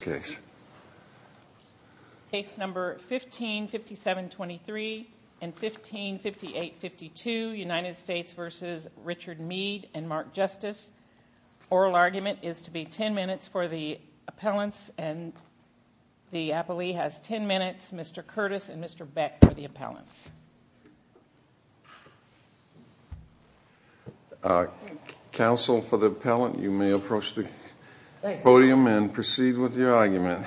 case. Case number 155723 and 155852 United States v. Richard Meade and Mark Justice. Oral argument is to be 10 minutes for the appellants and the appellee has 10 minutes, Mr. Curtis and Mr. Beck for the appellants. Counsel for the appellant you may approach the podium and proceed with your argument.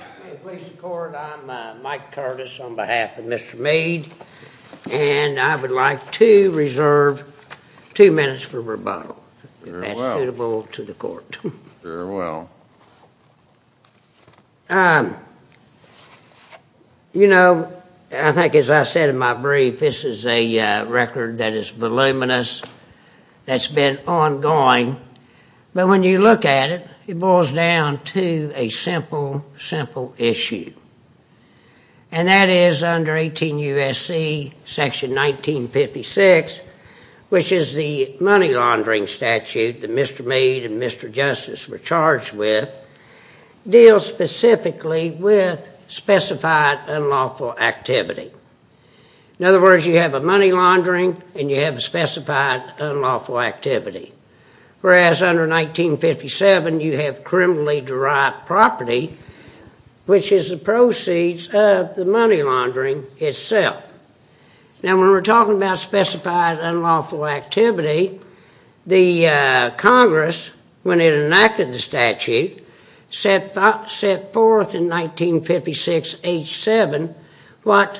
I'm Mike Curtis on behalf of Mr. Meade and I would like to reserve two minutes for rebuttal if that's suitable to the court. Very well. You know I think as I said in my brief this is a record that is voluminous that's been ongoing, but when you look at it it boils down to a simple, simple issue. And that is under 18 U.S.C. section 1956 which is the money laundering statute that Mr. Meade and Mr. Justice were charged with deals specifically with specified unlawful activity. In other words, under 1957 you have criminally derived property which is the proceeds of the money laundering itself. Now when we're talking about specified unlawful activity, the Congress when it enacted the statute set forth in 1956 H7 what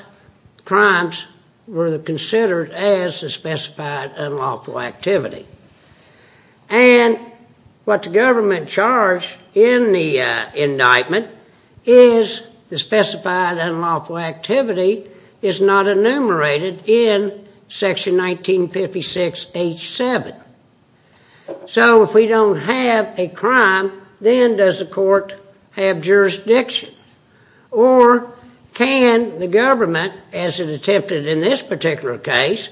crimes were considered as specified unlawful activity. And what the government charged in the indictment is the specified unlawful activity is not enumerated in section 1956 H7. So if we don't have a crime then does the court have jurisdiction? Or can the government as it attempted in this particular case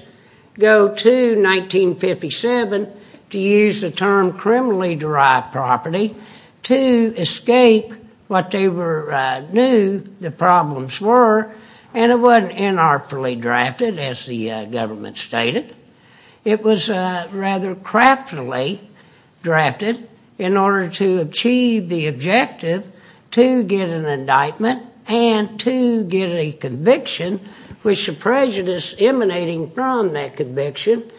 go to 1957 to use the term criminally derived property to escape what they knew the problems were and it wasn't inartfully drafted as the government stated. It was rather craftily drafted in order to achieve the objective to get an indictment and to get a conviction which the prejudice emanating from that conviction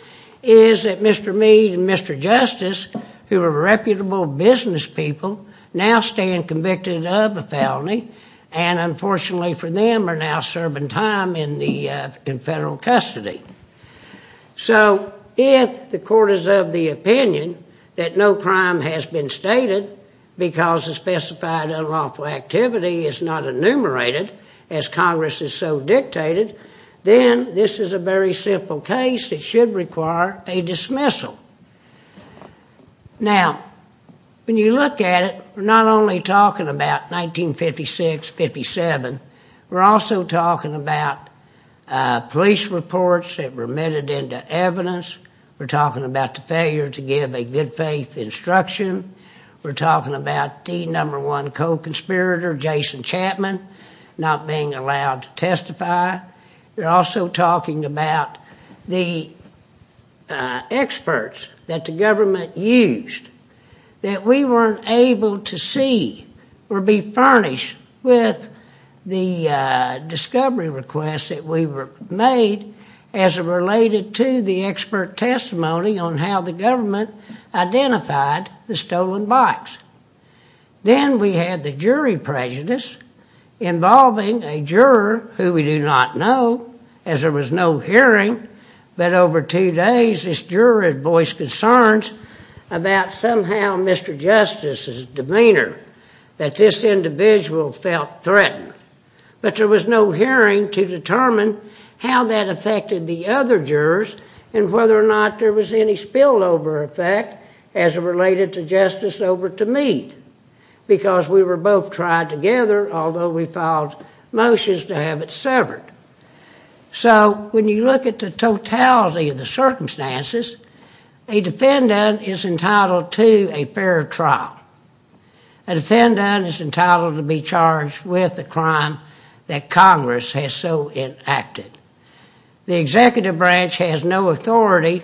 is that Mr. Meade and Mr. Justice who were reputable business people now stand convicted of a felony and unfortunately for them are now serving time in federal custody. So if the court is of the opinion that no crime has been stated because the specified unlawful activity is not enumerated as Congress has so dictated, then this is a very simple case that should require a dismissal. Now, when you look at it, we're not only talking about 1956-57, we're also talking about police reports that were admitted into evidence, we're talking about the failure to give a good faith instruction, we're talking about the number one co-conspirator, Jason Chapman, not being allowed to testify. We're also talking about the experts that the government used that we weren't able to see or be furnished with the discovery requests that we were made as it related to the expert testimony on how the government identified the stolen bikes. Then we had the jury prejudice involving a juror who we do not know as there was no hearing, but over two days this juror voiced concerns about somehow Mr. Justice's demeanor that this individual felt threatened. But there was no hearing to determine how that affected the other jurors and whether or not there was any spillover effect as it related to Justice over to me because we were both tried together, although we filed motions to have it severed. So when you look at the totality of the circumstances, a defendant is entitled to a fair trial. A defendant is a crime that Congress has so enacted. The executive branch has no authority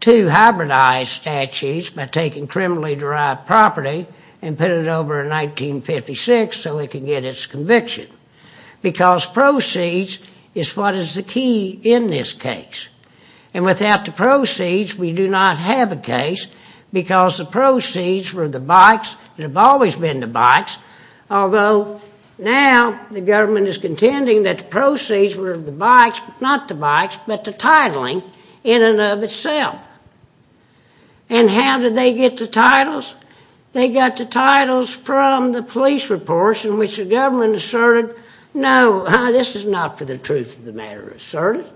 to hybridize statutes by taking criminally derived property and putting it over in 1956 so it can get its conviction because proceeds is what is the key in this case. And without the proceeds, we do not have a case because the proceeds were the bikes that have always been the bikes, although now the government is contending that the proceeds were the bikes, not the bikes, but the titling in and of itself. And how did they get the titles? They got the titles from the police reports in which the government asserted, no, this is not for the truth of the matter asserted.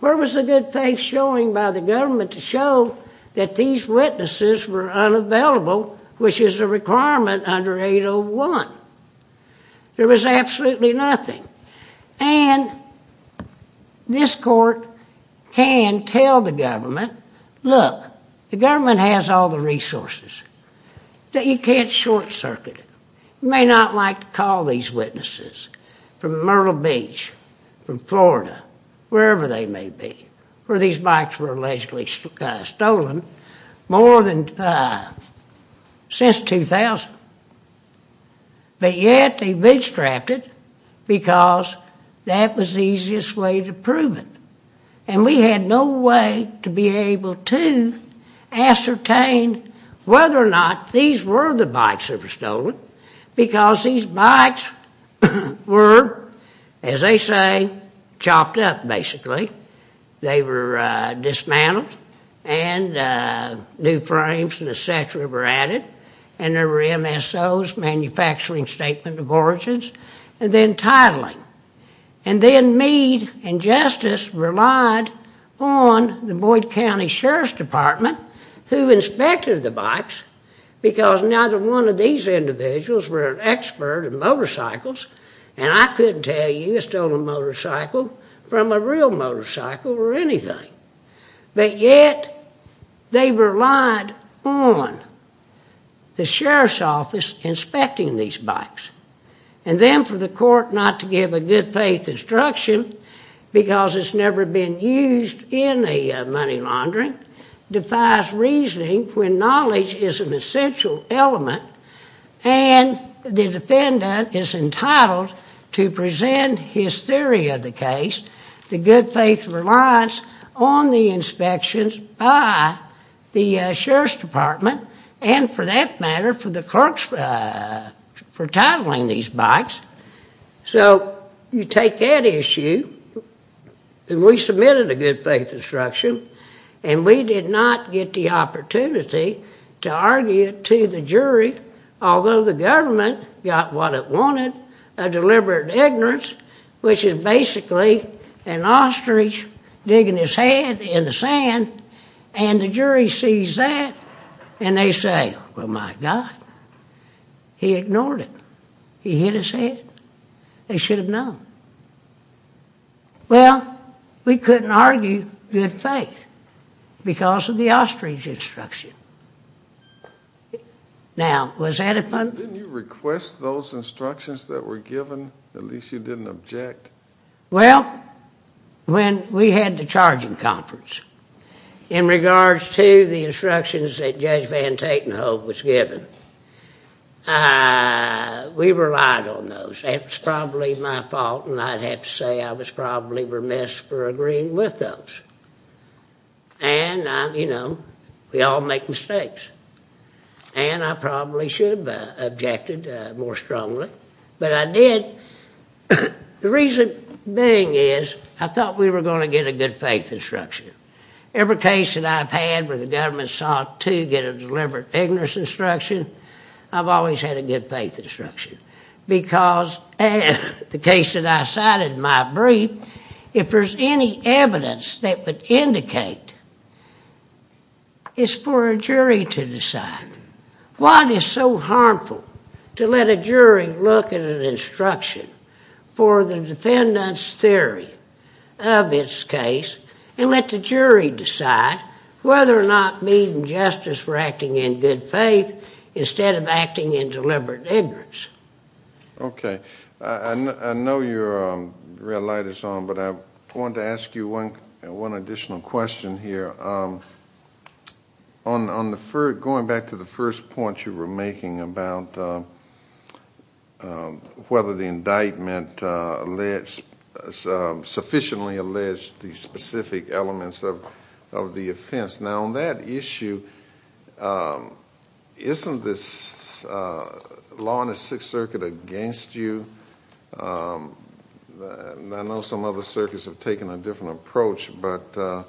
Where was the good faith showing by the government to show that these witnesses were unavailable, which is a requirement under 801? There was absolutely nothing. And this court can tell the government, look, the government has all the resources that you can't short circuit it. You may not like to call these witnesses from Myrtle Beach, from Florida, wherever they may be, where these bikes were allegedly stolen more than since 2000. But yet they bootstrapped it because that was the easiest way to prove it. And we had no way to be able to ascertain whether or not these were the bikes that were stolen because these bikes were, as they say, chopped up basically. They were dismantled and new frames and et cetera were added. And there were MSOs, manufacturing statement of origins, and then titling. And then Meade and Justice relied on the Boyd County Sheriff's Department who inspected the bikes because neither one of these individuals were an expert in motorcycles and I couldn't tell you a stolen motorcycle from a real motorcycle or anything. But yet they relied on the Sheriff's Office inspecting these bikes. And then for the court not to recognize reasoning when knowledge is an essential element and the defendant is entitled to present his theory of the case, the good faith relies on the inspections by the Sheriff's Department and for that matter for the clerks for titling these bikes. So you take that issue and we submitted a good faith instruction and we did not get the opportunity to argue to the jury, although the government got what it wanted, a deliberate ignorance, which is basically an ostrich digging his head in the sand and the jury sees that and they say, well my God, he ignored it. He hid his head. They should have known. Well, we couldn't argue good faith because of the ostrich instruction. Now, was that a fun... Didn't you request those instructions that were given? At least you didn't object. Well, when we had the Tate and Hope was given, we relied on those. It was probably my fault and I'd have to say I was probably remiss for agreeing with those. And, you know, we all make mistakes and I probably should have objected more strongly, but I did. The reason being is I thought we were going to get a good faith instruction. Every case that I've had where the government sought to get a deliberate ignorance instruction, I've always had a good faith instruction. Because the case that I cited in my brief, if there's any evidence that would indicate, it's for a jury to decide. Why is it so harmful to let a jury look at an instruction for the defendant's theory of its case and let the jury decide whether or not meeting justice for acting in good faith instead of acting in deliberate ignorance? Okay. I know your red light is on, but I wanted to ask you one additional question here. Going back to the first point you were making about whether the indictment sufficiently alleged the specific elements of the offense. Now, on that issue, isn't this law in the Sixth Circuit against you? I know some other circuits have taken a different approach, but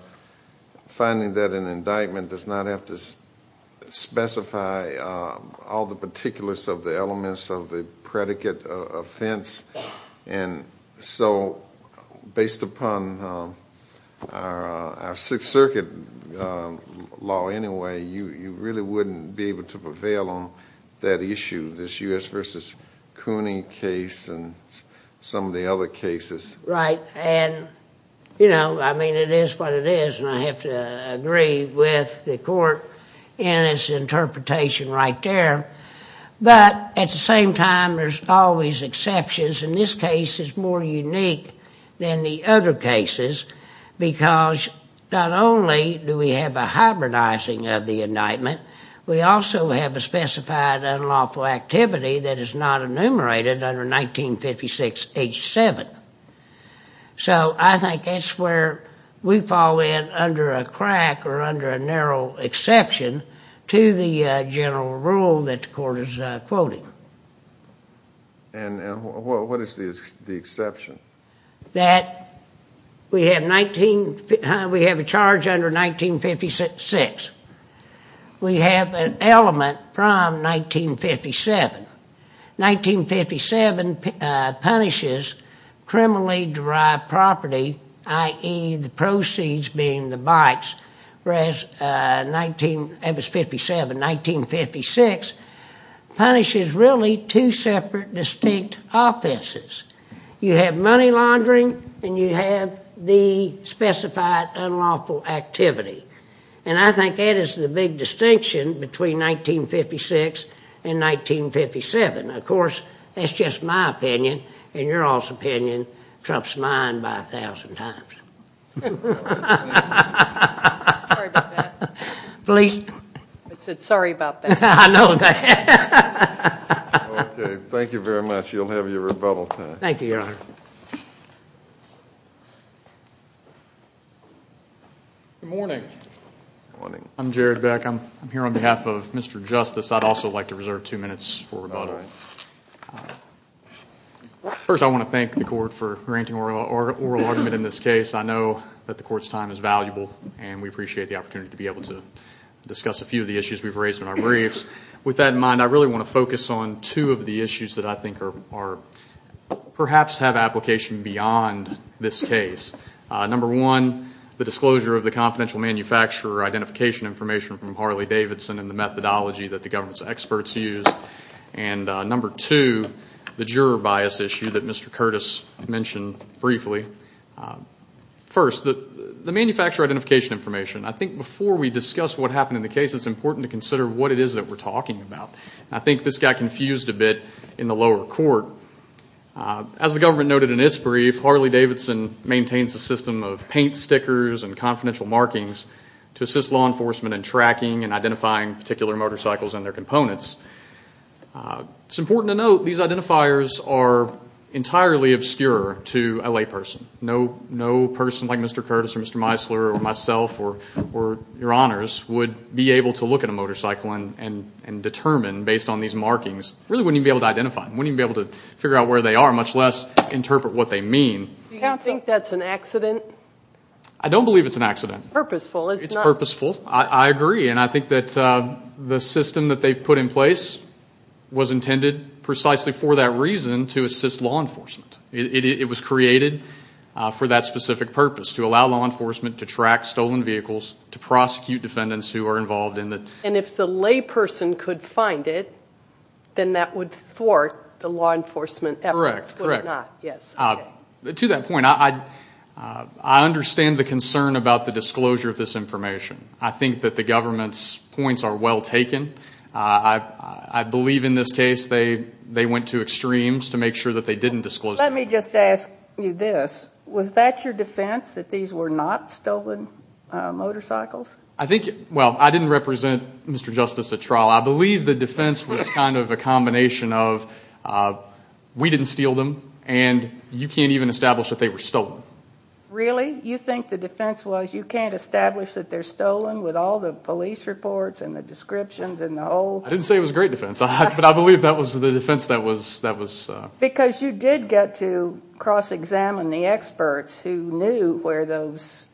finding that in an indictment does not have to specify all the particulars of the elements of the predicate offense. Based upon our Sixth Circuit law anyway, you really wouldn't be able to prevail on that issue, this U.S. v. Cooney case and some of the other cases? Right. And, you know, I mean, it is what it is, and I have to agree with the court in its interpretation right there. But at the same time, there's always exceptions, and this case is more unique than the other cases because not only do we have a hybridizing of the indictment, we also have a specified unlawful activity that is not enumerated under 1956H7. So I think that's where we fall in under a crack or under a narrow exception to the general rule that the court is quoting. And what is the exception? That we have a charge under 1956. We have an element from 1957. 1957 punishes criminally derived property, i.e., the proceeds being the bites, whereas it was 1957. 1956 punishes really two separate distinct offenses. You have money laundering, and you have the specified unlawful activity. And I think that is the big distinction between 1956 and 1957. Of course, that's just my opinion, and your all's opinion trumps mine by a thousand times. Sorry about that. Please. I said sorry about that. I know that. Okay. Thank you very much. You'll have your rebuttal time. Thank you, Your Honor. Good morning. Good morning. I'm Jared Beck. I'm here on behalf of Mr. Justice. I'd also like to reserve two minutes for rebuttal. All right. First, I want to thank the court for granting oral argument in this case. I know that the court's time is valuable, and we appreciate the opportunity to be able to discuss a few of the issues we've raised in our briefs. With that in mind, I really want to focus on two of the issues that I think perhaps have application beyond this case. Number one, the disclosure of the confidential manufacturer identification information from Harley-Davidson and the methodology that the government's experts used. And number two, the juror bias issue that Mr. Curtis mentioned briefly. First, the manufacturer identification information. I think before we discuss what happened in the case, it's important to consider what it is that we're talking about. I think this got confused a bit in the lower court. As the government noted in its brief, Harley-Davidson maintains a system of paint stickers and confidential markings to assist law enforcement in tracking and identifying particular motorcycles and their components. It's important to note these identifiers are entirely obscure to a layperson. No person like Mr. Curtis or Mr. Meisler or myself or Your Honors would be able to look at a motorcycle and determine based on these markings, really wouldn't even be able to identify them, wouldn't even be able to figure out where they are, much less interpret what they mean. Do you think that's an accident? I don't believe it's an accident. It's purposeful, it's not. It's purposeful. I agree, and I think that the system that they've put in place was intended precisely for that reason, to assist law enforcement. It was created for that specific purpose, to allow law enforcement to track stolen vehicles, to prosecute defendants who are involved in it. And if the layperson could find it, then that would thwart the law enforcement efforts, would it not? Correct, correct. Yes. To that point, I understand the concern about the disclosure of this information. I think that the government's points are well taken. I believe in this case they went to extremes to make sure that they didn't disclose the information. Let me just ask you this. Was that your defense, that these were not stolen motorcycles? I think, well, I didn't represent Mr. Justice at trial. I believe the defense was kind of a combination of, we didn't steal them, and you can't even establish that they were stolen. Really? You think the defense was you can't establish that they're stolen with all the police reports and the descriptions and the whole? I didn't say it was a great defense, but I believe that was the defense that was... Because you did get to cross-examine the experts who knew where those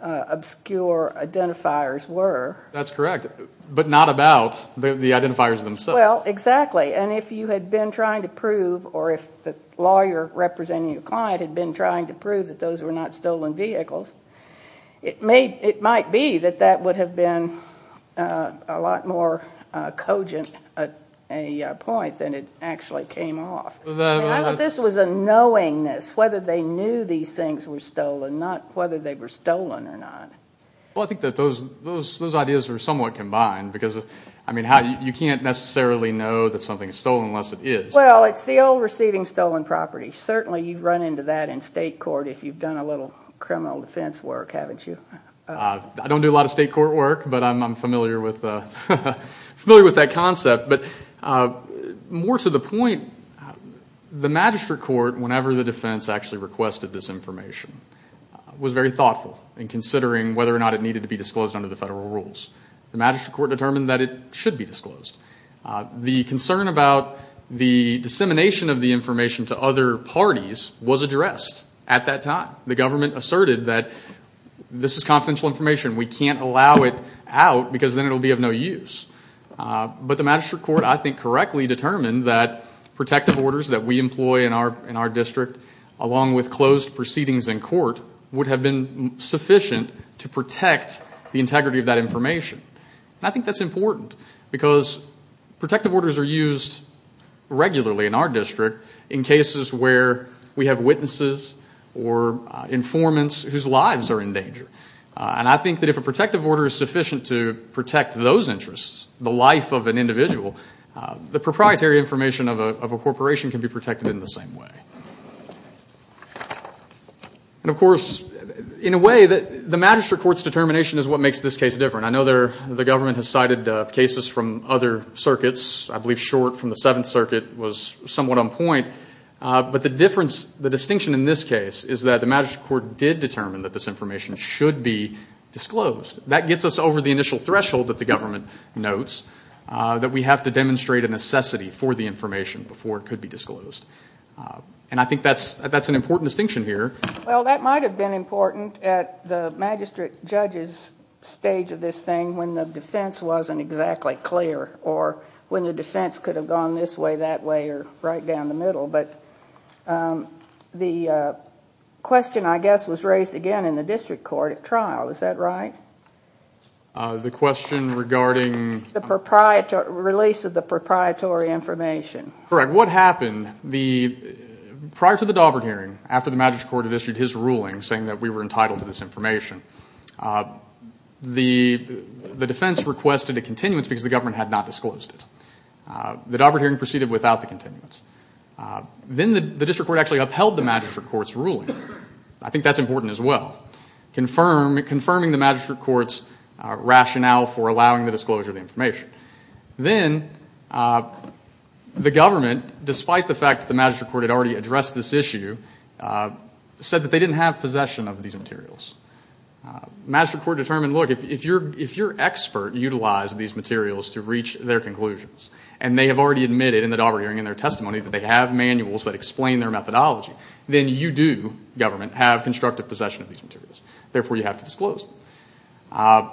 obscure identifiers were. That's correct, but not about the identifiers themselves. Well, exactly, and if you had been trying to prove, or if the lawyer representing your client had been trying to prove that those were not stolen vehicles, it might be that that would have been a lot more cogent a point than it actually came off. I thought this was a knowingness, whether they knew these things were stolen, not whether they were stolen or not. Well, I think that those ideas are somewhat combined, because, I mean, you can't necessarily know that something is stolen unless it is. Well, it's the old receiving stolen property. Certainly you've run into that in state court if you've done a little criminal defense work, haven't you? I don't do a lot of state court work, but I'm familiar with that concept. But more to the point, the magistrate court, whenever the defense actually requested this information, was very thoughtful in considering whether or not it needed to be disclosed under the federal rules. The magistrate court determined that it should be disclosed. The concern about the dissemination of the information to other parties was addressed at that time. The government asserted that this is confidential information. We can't allow it out because then it will be of no use. But the magistrate court, I think, correctly determined that protective orders that we employ in our district, along with closed proceedings in court, would have been sufficient to protect the integrity of that information. And I think that's important because protective orders are used regularly in our district in cases where we have witnesses or informants whose lives are in danger. And I think that if a protective order is sufficient to protect those interests, the life of an individual, the proprietary information of a corporation can be protected in the same way. And, of course, in a way, the magistrate court's determination is what makes this case different. I know the government has cited cases from other circuits. I believe Short from the Seventh Circuit was somewhat on point. But the distinction in this case is that the magistrate court did determine that this information should be disclosed. That gets us over the initial threshold that the government notes, that we have to demonstrate a necessity for the information before it could be disclosed. And I think that's an important distinction here. Well, that might have been important at the magistrate judge's stage of this thing when the defense wasn't exactly clear or when the defense could have gone this way, that way, or right down the middle. But the question, I guess, was raised again in the district court at trial. Is that right? The question regarding? The release of the proprietary information. Correct. Prior to the Daubert hearing, after the magistrate court had issued his ruling, saying that we were entitled to this information, the defense requested a continuance because the government had not disclosed it. The Daubert hearing proceeded without the continuance. Then the district court actually upheld the magistrate court's ruling. I think that's important as well, confirming the magistrate court's rationale for allowing the disclosure of the information. Then the government, despite the fact that the magistrate court had already addressed this issue, said that they didn't have possession of these materials. The magistrate court determined, look, if your expert utilized these materials to reach their conclusions and they have already admitted in the Daubert hearing and their testimony that they have manuals that explain their methodology, then you do, government, have constructive possession of these materials. Therefore, you have to disclose them.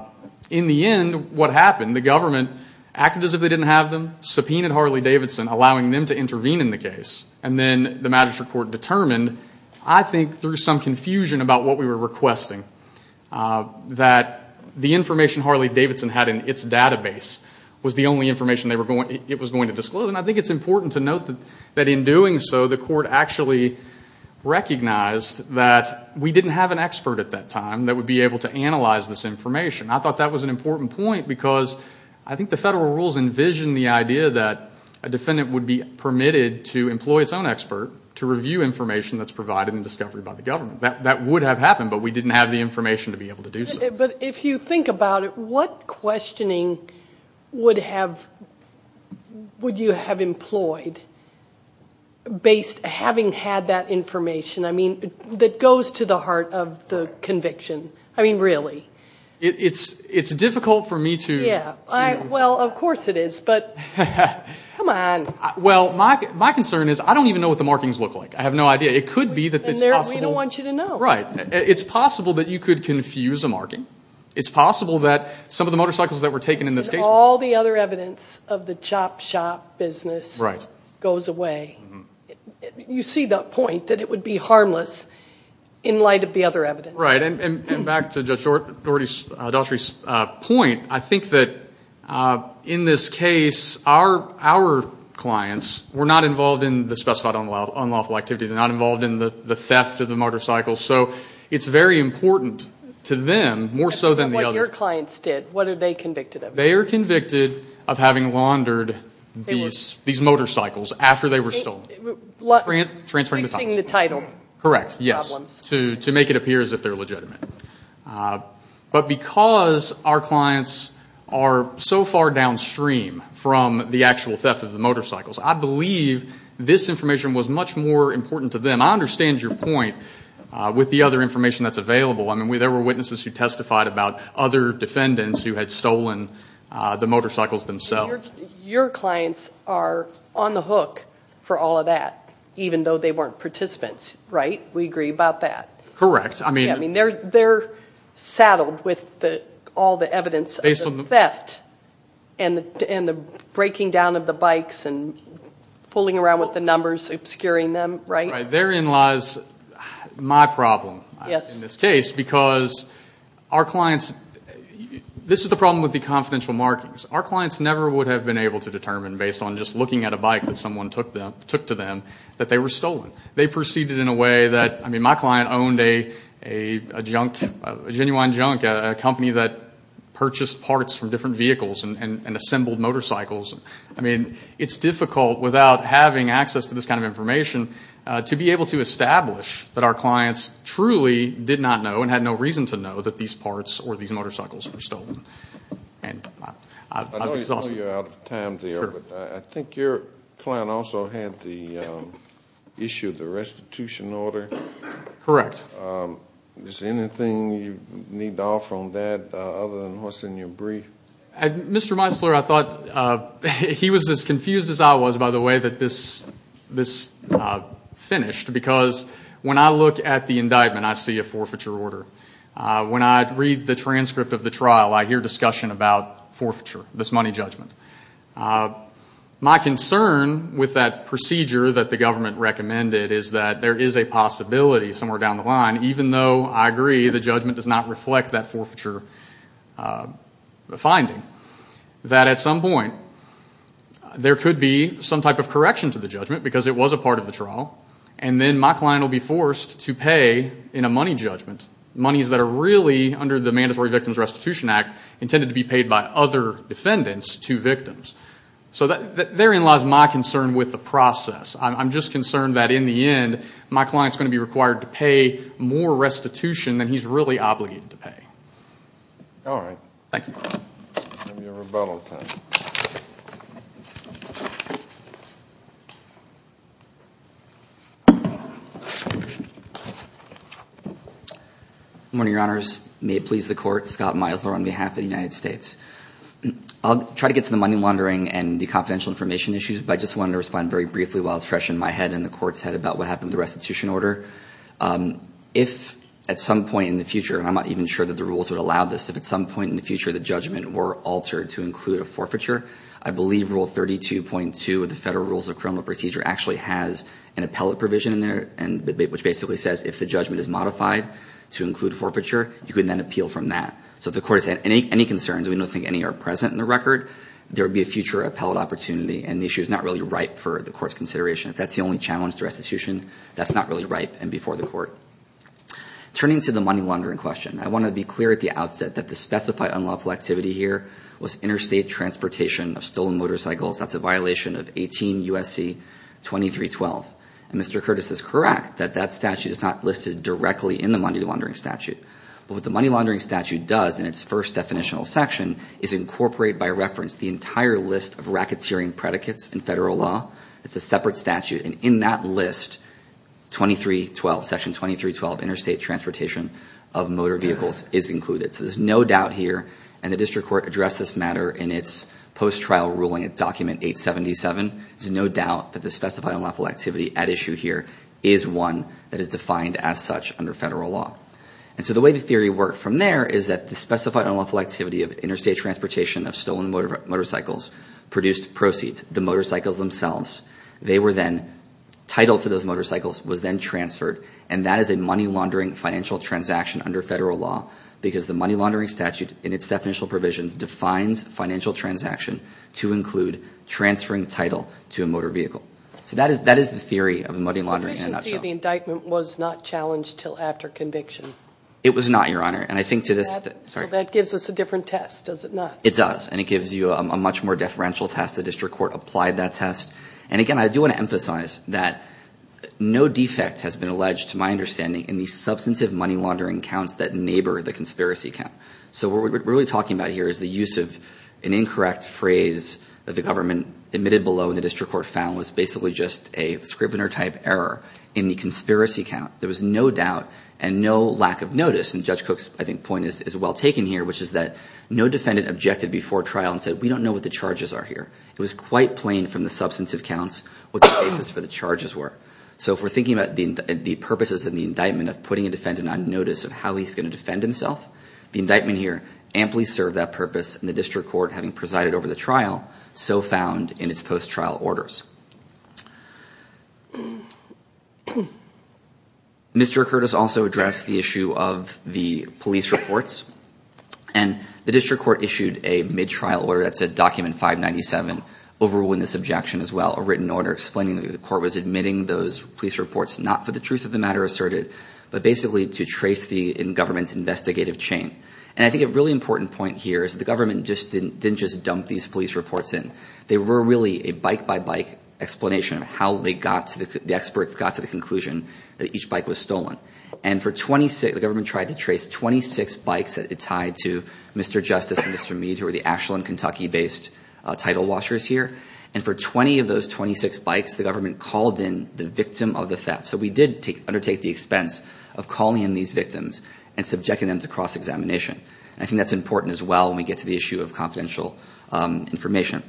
In the end, what happened? The government acted as if they didn't have them, subpoenaed Harley-Davidson, allowing them to intervene in the case. Then the magistrate court determined, I think through some confusion about what we were requesting, that the information Harley-Davidson had in its database was the only information it was going to disclose. I think it's important to note that in doing so, the court actually recognized that we didn't have an expert at that time that would be able to analyze this information. I thought that was an important point because I think the federal rules envision the idea that a defendant would be permitted to employ its own expert to review information that's provided in discovery by the government. That would have happened, but we didn't have the information to be able to do so. But if you think about it, what questioning would you have employed having had that information? I mean, that goes to the heart of the conviction. I mean, really. It's difficult for me to... Well, of course it is, but come on. Well, my concern is I don't even know what the markings look like. I have no idea. It could be that it's possible... We don't want you to know. Right. It's possible that you could confuse a marking. It's possible that some of the motorcycles that were taken in this case... All the other evidence of the chop shop business goes away. You see the point that it would be harmless in light of the other evidence. Right. And back to Judge Daughtry's point, I think that in this case, our clients were not involved in the specified unlawful activity. They're not involved in the theft of the motorcycles. So it's very important to them, more so than the other... What your clients did, what are they convicted of? They are convicted of having laundered these motorcycles after they were stolen. Transferring the title. Correct, yes, to make it appear as if they're legitimate. But because our clients are so far downstream from the actual theft of the motorcycles, I believe this information was much more important to them. There were witnesses who testified about other defendants who had stolen the motorcycles themselves. Your clients are on the hook for all of that, even though they weren't participants, right? We agree about that. Correct. They're saddled with all the evidence of the theft and the breaking down of the bikes and fooling around with the numbers, obscuring them, right? Therein lies my problem in this case, because our clients... This is the problem with the confidential markings. Our clients never would have been able to determine, based on just looking at a bike that someone took to them, that they were stolen. They proceeded in a way that... I mean, my client owned a junk, a genuine junk, a company that purchased parts from different vehicles and assembled motorcycles. I mean, it's difficult, without having access to this kind of information, to be able to establish that our clients truly did not know and had no reason to know that these parts or these motorcycles were stolen. I know you're out of time there, but I think your client also had the issue of the restitution order. Correct. Is there anything you need to offer on that, other than what's in your brief? Mr. Meisler, I thought he was as confused as I was, by the way, that this finished, because when I look at the indictment, I see a forfeiture order. When I read the transcript of the trial, I hear discussion about forfeiture, this money judgment. My concern with that procedure that the government recommended is that there is a possibility somewhere down the line, even though I agree the judgment does not reflect that forfeiture finding, that at some point there could be some type of correction to the judgment, because it was a part of the trial, and then my client will be forced to pay in a money judgment, monies that are really, under the Mandatory Victims Restitution Act, intended to be paid by other defendants to victims. So therein lies my concern with the process. I'm just concerned that in the end, my client's going to be required to pay more restitution than he's really obligated to pay. All right. Thank you. Give me a rebuttal time. Good morning, Your Honors. May it please the Court, Scott Meisler on behalf of the United States. I'll try to get to the money laundering and the confidential information issues, but I just wanted to respond very briefly while it's fresh in my head and the Court's head about what happened with the restitution order. If at some point in the future, and I'm not even sure that the rules would allow this, if at some point in the future the judgment were altered to include a forfeiture, I believe Rule 32.2 of the Federal Rules of Criminal Procedure actually has an appellate provision in there, which basically says if the judgment is modified to include forfeiture, you can then appeal from that. So if the Court has any concerns, and we don't think any are present in the record, there would be a future appellate opportunity, and the issue is not really ripe for the Court's consideration. If that's the only challenge to restitution, that's not really ripe and before the Court. Turning to the money laundering question, I want to be clear at the outset that the specified unlawful activity here was interstate transportation of stolen motorcycles. That's a violation of 18 U.S.C. 2312. And Mr. Curtis is correct that that statute is not listed directly in the money laundering statute. But what the money laundering statute does in its first definitional section is incorporate by reference the entire list of racketeering predicates in federal law. It's a separate statute. And in that list, 2312, Section 2312, interstate transportation of motor vehicles is included. So there's no doubt here, and the District Court addressed this matter in its post-trial ruling at Document 877. There's no doubt that the specified unlawful activity at issue here is one that is defined as such under federal law. And so the way the theory worked from there is that the specified unlawful activity of interstate transportation of stolen motorcycles produced proceeds, the motorcycles themselves. They were then titled to those motorcycles, was then transferred, and that is a money laundering financial transaction under federal law because the money laundering statute in its definitional provisions defines financial transaction to include transferring title to a motor vehicle. So that is the theory of the money laundering in a nutshell. So the efficiency of the indictment was not challenged until after conviction? It was not, Your Honor. And I think to this— So that gives us a different test, does it not? It does, and it gives you a much more deferential test. The District Court applied that test. And again, I do want to emphasize that no defect has been alleged, to my understanding, in the substantive money laundering counts that neighbor the conspiracy count. So what we're really talking about here is the use of an incorrect phrase that the government admitted below and the District Court found was basically just a scrivener-type error in the conspiracy count. There was no doubt and no lack of notice. And Judge Cook's, I think, point is well taken here, which is that no defendant objected before trial and said, we don't know what the charges are here. It was quite plain from the substantive counts what the basis for the charges were. So if we're thinking about the purposes of the indictment of putting a defendant on notice of how he's going to defend himself, the indictment here amply served that purpose, and the District Court, having presided over the trial, so found in its post-trial orders. Mr. Curtis also addressed the issue of the police reports. And the District Court issued a mid-trial order that said, Document 597 will rule in this objection as well, a written order explaining that the court was admitting those police reports not for the truth of the matter asserted, but basically to trace the government's investigative chain. And I think a really important point here is the government didn't just dump these police reports in. They were really a bike-by-bike explanation of how the experts got to the conclusion that each bike was stolen. And for 26, the government tried to trace 26 bikes that it tied to Mr. Justice and Mr. Meade, who were the Ashland, Kentucky-based title washers here. And for 20 of those 26 bikes, the government called in the victim of the theft. So we did undertake the expense of calling in these victims and subjecting them to cross-examination. I think that's important as well when we get to the issue of confidential information.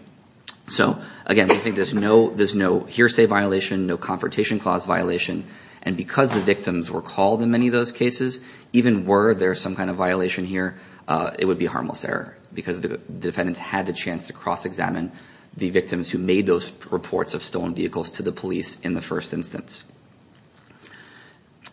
So, again, I think there's no hearsay violation, no Confrontation Clause violation. And because the victims were called in many of those cases, even were there some kind of violation here, it would be a harmless error because the defendants had the chance to cross-examine the victims who made those reports of stolen vehicles to the police in the first instance.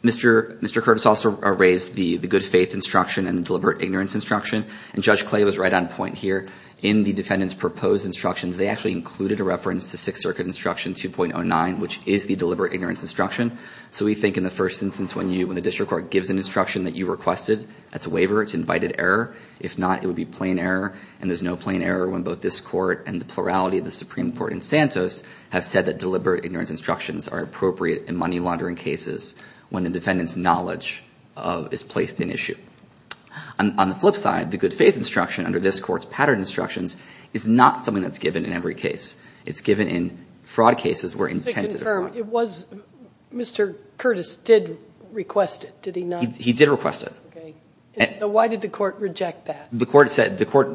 Mr. Curtis also raised the good-faith instruction and the deliberate ignorance instruction. And Judge Clay was right on point here. In the defendants' proposed instructions, they actually included a reference to Sixth Circuit Instruction 2.09, which is the deliberate ignorance instruction. So we think in the first instance, when the district court gives an instruction that you requested, that's a waiver, it's invited error. If not, it would be plain error, and there's no plain error when both this court and the plurality of the Supreme Court in Santos have said that deliberate ignorance instructions are appropriate in money-laundering cases when the defendant's knowledge is placed in issue. On the flip side, the good-faith instruction under this court's patterned instructions is not something that's given in every case. It's given in fraud cases where intent to defraud. It was Mr. Curtis did request it, did he not? He did request it. Okay. So why did the court reject that? The court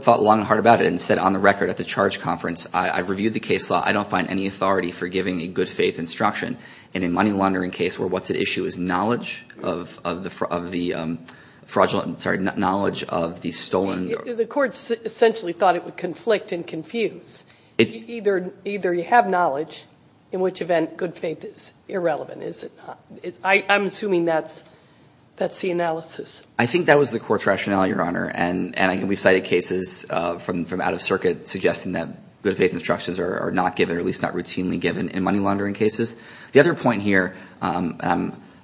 thought long and hard about it and said, on the record at the charge conference, I reviewed the case law. I don't find any authority for giving a good-faith instruction. And in a money-laundering case where what's at issue is knowledge of the fraudulent and, sorry, knowledge of the stolen. The court essentially thought it would conflict and confuse. Either you have knowledge, in which event good-faith is irrelevant, is it not? I'm assuming that's the analysis. I think that was the court's rationale, Your Honor. And I think we've cited cases from out of circuit suggesting that good-faith instructions are not given or at least not routinely given in money-laundering cases. The other point here, and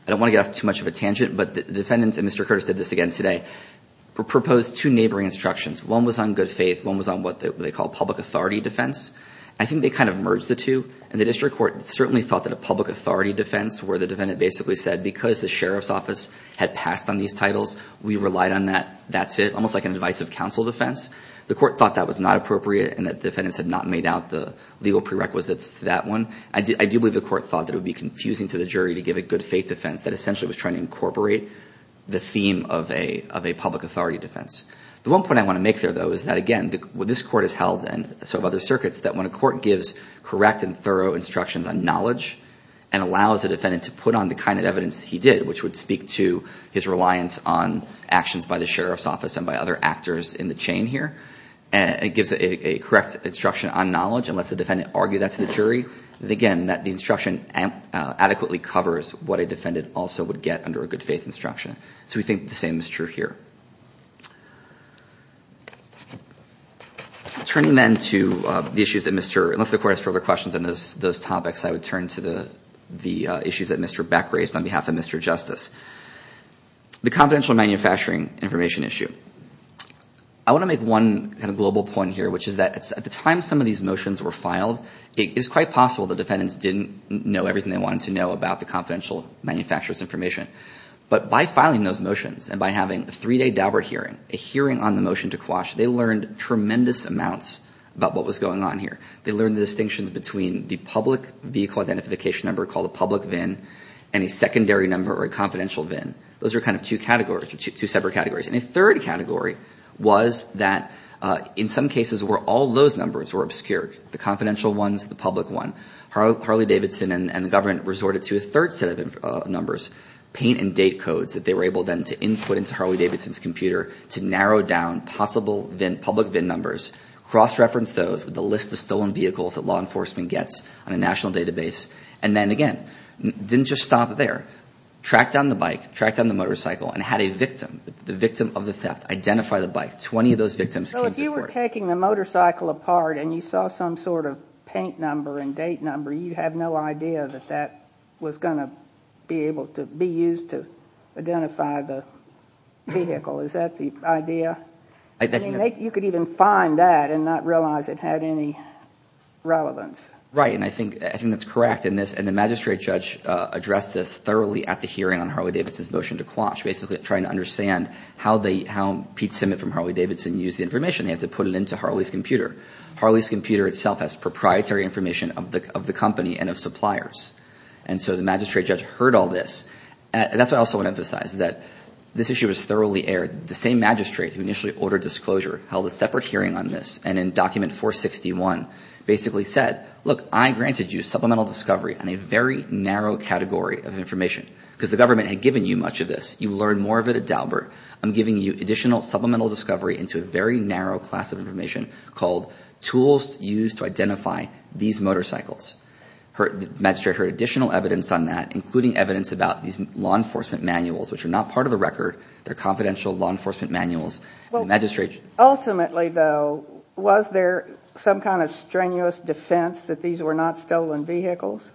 I don't want to get off too much of a tangent, but the defendants, and Mr. Curtis did this again today, proposed two neighboring instructions. One was on good-faith. One was on what they call public authority defense. I think they kind of merged the two. And the district court certainly thought that a public authority defense where the defendant basically said, because the sheriff's office had passed on these titles, we relied on that. That's it. Almost like an advisive counsel defense. The court thought that was not appropriate and that defendants had not made out the legal prerequisites to that one. I do believe the court thought that it would be confusing to the jury to give a good-faith defense that essentially was trying to incorporate the theme of a public authority defense. The one point I want to make there, though, is that, again, this court has held, and so have other circuits, that when a court gives correct and thorough instructions on knowledge and allows a defendant to put on the kind of evidence he did, which would speak to his reliance on actions by the sheriff's office and by other actors in the chain here, it gives a correct instruction on knowledge and lets the defendant argue that to the jury. And, again, the instruction adequately covers what a defendant also would get under a good-faith instruction. So we think the same is true here. Turning then to the issues that Mr. — unless the court has further questions on those topics, I would turn to the issues that Mr. Beck raised on behalf of Mr. Justice. The confidential manufacturing information issue. I want to make one kind of global point here, which is that at the time some of these motions were filed, it is quite possible the defendants didn't know everything they wanted to know about the confidential manufacturer's information. But by filing those motions and by having a three-day Daubert hearing, a hearing on the motion to quash, they learned tremendous amounts about what was going on here. They learned the distinctions between the public vehicle identification number, called a public VIN, and a secondary number, or a confidential VIN. Those are kind of two categories, two separate categories. And a third category was that in some cases where all those numbers were obscured, the confidential ones, the public one, Harley-Davidson and the government resorted to a third set of numbers, paint-and-date codes that they were able then to input into Harley-Davidson's computer to narrow down possible public VIN numbers, cross-reference those with a list of stolen vehicles that law enforcement gets on a national database. And then, again, didn't just stop there. Tracked down the bike, tracked down the motorcycle, and had a victim, the victim of the theft, identify the bike. Twenty of those victims came to court. So if you were taking the motorcycle apart and you saw some sort of paint number and date number, you have no idea that that was going to be able to be used to identify the vehicle. Is that the idea? I mean, you could even find that and not realize it had any relevance. Right. And I think that's correct. And the magistrate judge addressed this thoroughly at the hearing on basically trying to understand how Pete Simmitt from Harley-Davidson used the information. They had to put it into Harley's computer. Harley's computer itself has proprietary information of the company and of suppliers. And so the magistrate judge heard all this. And that's why I also want to emphasize that this issue was thoroughly aired. The same magistrate who initially ordered disclosure held a separate hearing on this and in Document 461 basically said, look, I granted you supplemental discovery on a very narrow category of information because the government had given you much of this. You learned more of it at Daubert. I'm giving you additional supplemental discovery into a very narrow class of information called tools used to identify these motorcycles. The magistrate heard additional evidence on that, including evidence about these law enforcement manuals, which are not part of the record. They're confidential law enforcement manuals. Ultimately, though, was there some kind of strenuous defense that these were not stolen vehicles?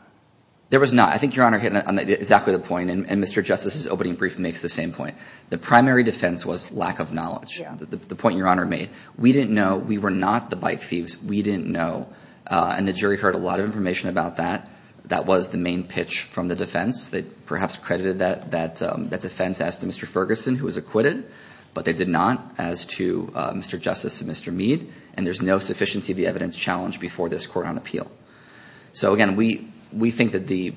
There was not. I think Your Honor hit exactly the point. And Mr. Justice's opening brief makes the same point. The primary defense was lack of knowledge, the point Your Honor made. We didn't know. We were not the bike thieves. We didn't know. And the jury heard a lot of information about that. That was the main pitch from the defense. They perhaps credited that defense as to Mr. Ferguson, who was acquitted, but they did not as to Mr. Justice and Mr. Mead. And there's no sufficiency of the evidence challenged before this court on appeal. So, again, we think that the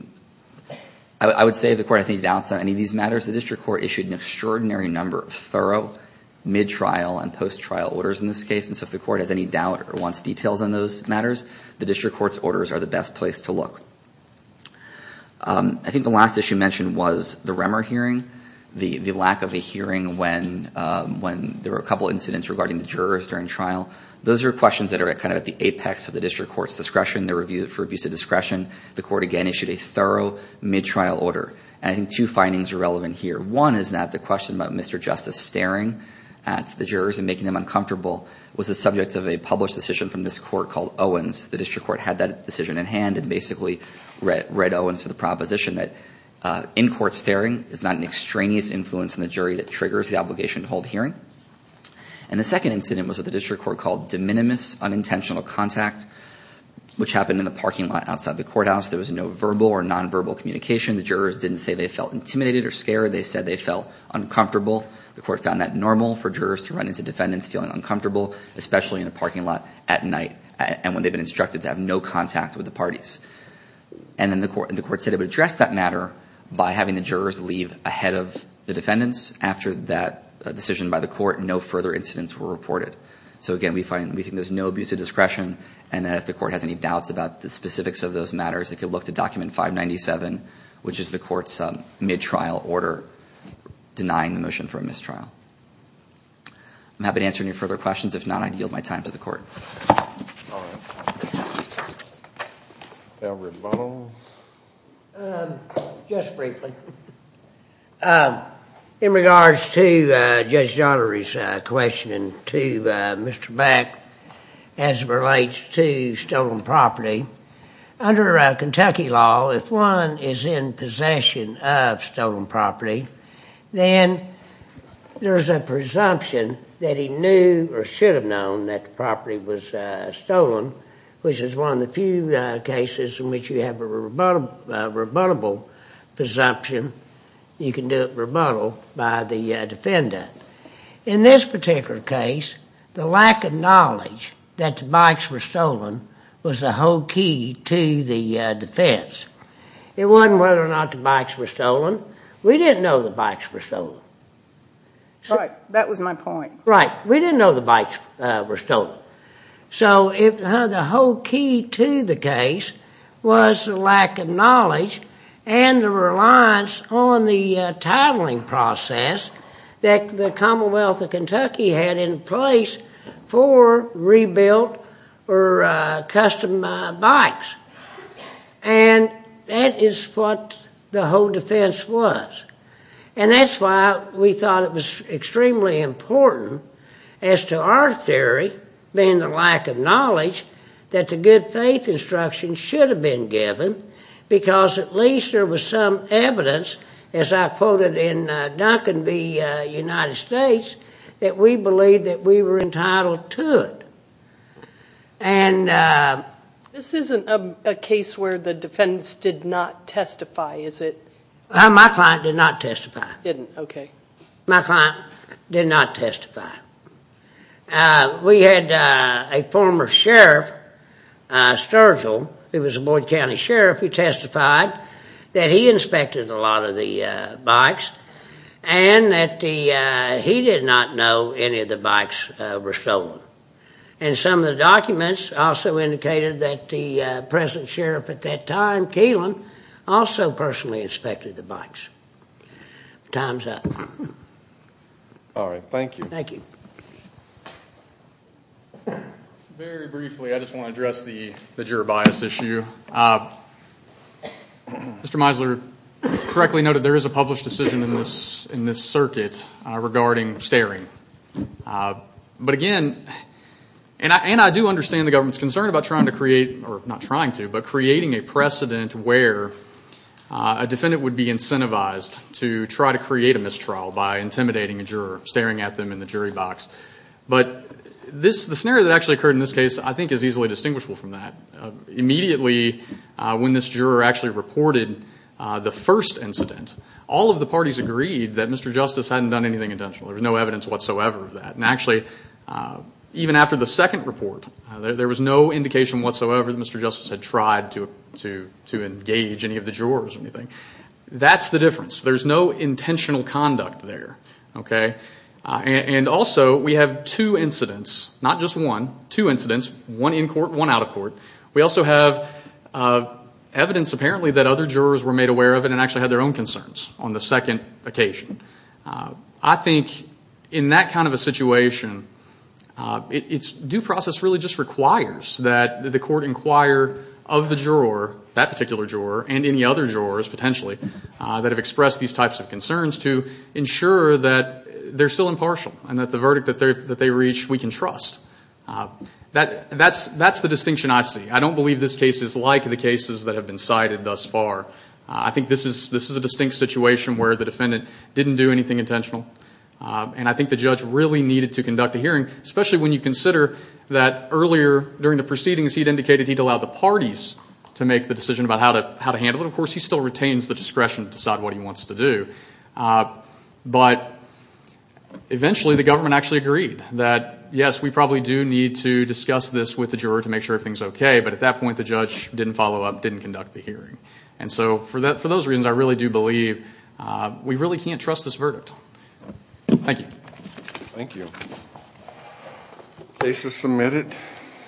– I would say the court has any doubts on any of these matters. The district court issued an extraordinary number of thorough mid-trial and post-trial orders in this case. And so if the court has any doubt or wants details on those matters, the district court's orders are the best place to look. I think the last issue mentioned was the Remmer hearing, the lack of a hearing when there were a couple incidents regarding the jurors during trial. Those are questions that are kind of at the apex of the district court's discretion. They're reviewed for abuse of discretion. The court, again, issued a thorough mid-trial order. And I think two findings are relevant here. One is that the question about Mr. Justice staring at the jurors and making them uncomfortable was the subject of a published decision from this court called Owens. The district court had that decision at hand and basically read Owens for the proposition that in-court staring is not an extraneous influence on the jury that triggers the obligation to hold a hearing. And the second incident was with a district court called de minimis unintentional contact, which happened in the parking lot outside the courthouse. There was no verbal or nonverbal communication. The jurors didn't say they felt intimidated or scared. They said they felt uncomfortable. The court found that normal for jurors to run into defendants feeling uncomfortable, especially in a parking lot at night and when they've been instructed to have no contact with the parties. And then the court said it would address that matter by having the jurors leave ahead of the defendants. After that decision by the court, no further incidents were reported. So again, we think there's no abuse of discretion and that if the court has any doubts about the specifics of those matters, it could look to document 597, which is the court's mid-trial order denying the motion for a mistrial. I'm happy to answer any further questions. If not, I'd yield my time to the court. All right. Albert Bunnell? Just briefly. In regards to Judge Daugherty's question to Mr. Beck as it relates to stolen property, under Kentucky law, if one is in possession of stolen property, then there's a presumption that he knew or should have known that the property was stolen, which is one of the few cases in which you have a rebuttable presumption. You can do it rebuttal by the defendant. In this particular case, the lack of knowledge that the bikes were stolen was the whole key to the defense. It wasn't whether or not the bikes were stolen. We didn't know the bikes were stolen. Right. That was my point. Right. We didn't know the bikes were stolen. So the whole key to the case was the lack of knowledge and the reliance on the titling process that the Commonwealth of Kentucky had in place for rebuilt or custom bikes. And that is what the whole defense was. And that's why we thought it was extremely important as to our theory, being the lack of knowledge, that the good faith instruction should have been given because at least there was some evidence, as I quoted in Duncan v. United States, that we believed that we were entitled to it. This isn't a case where the defense did not testify, is it? My client did not testify. Didn't, okay. My client did not testify. We had a former sheriff, Sturgill, who was a Boyd County sheriff, who testified that he inspected a lot of the bikes and that he did not know any of the bikes were stolen. And some of the documents also indicated that the present sheriff at that time, also personally inspected the bikes. Time's up. All right. Thank you. Thank you. Very briefly, I just want to address the juror bias issue. Mr. Meisler correctly noted there is a published decision in this circuit regarding staring. Not trying to, but creating a precedent where a defendant would be incentivized to try to create a mistrial by intimidating a juror, staring at them in the jury box. But the scenario that actually occurred in this case I think is easily distinguishable from that. Immediately when this juror actually reported the first incident, all of the parties agreed that Mr. Justice hadn't done anything intentional. There was no evidence whatsoever of that. And actually, even after the second report, there was no indication whatsoever that Mr. Justice had tried to engage any of the jurors or anything. That's the difference. There's no intentional conduct there. And also, we have two incidents, not just one, two incidents, one in court, one out of court. We also have evidence apparently that other jurors were made aware of it and actually had their own concerns on the second occasion. I think in that kind of a situation, due process really just requires that the court inquire of the juror, that particular juror, and any other jurors potentially that have expressed these types of concerns to ensure that they're still impartial and that the verdict that they reach we can trust. That's the distinction I see. I don't believe this case is like the cases that have been cited thus far. I think this is a distinct situation where the defendant didn't do anything intentional. And I think the judge really needed to conduct a hearing, especially when you consider that earlier during the proceedings, he'd indicated he'd allowed the parties to make the decision about how to handle it. Of course, he still retains the discretion to decide what he wants to do. But eventually, the government actually agreed that, yes, we probably do need to discuss this with the juror to make sure everything's okay. But at that point, the judge didn't follow up, didn't conduct the hearing. And so for those reasons, I really do believe we really can't trust this verdict. Thank you. Thank you. Case is submitted.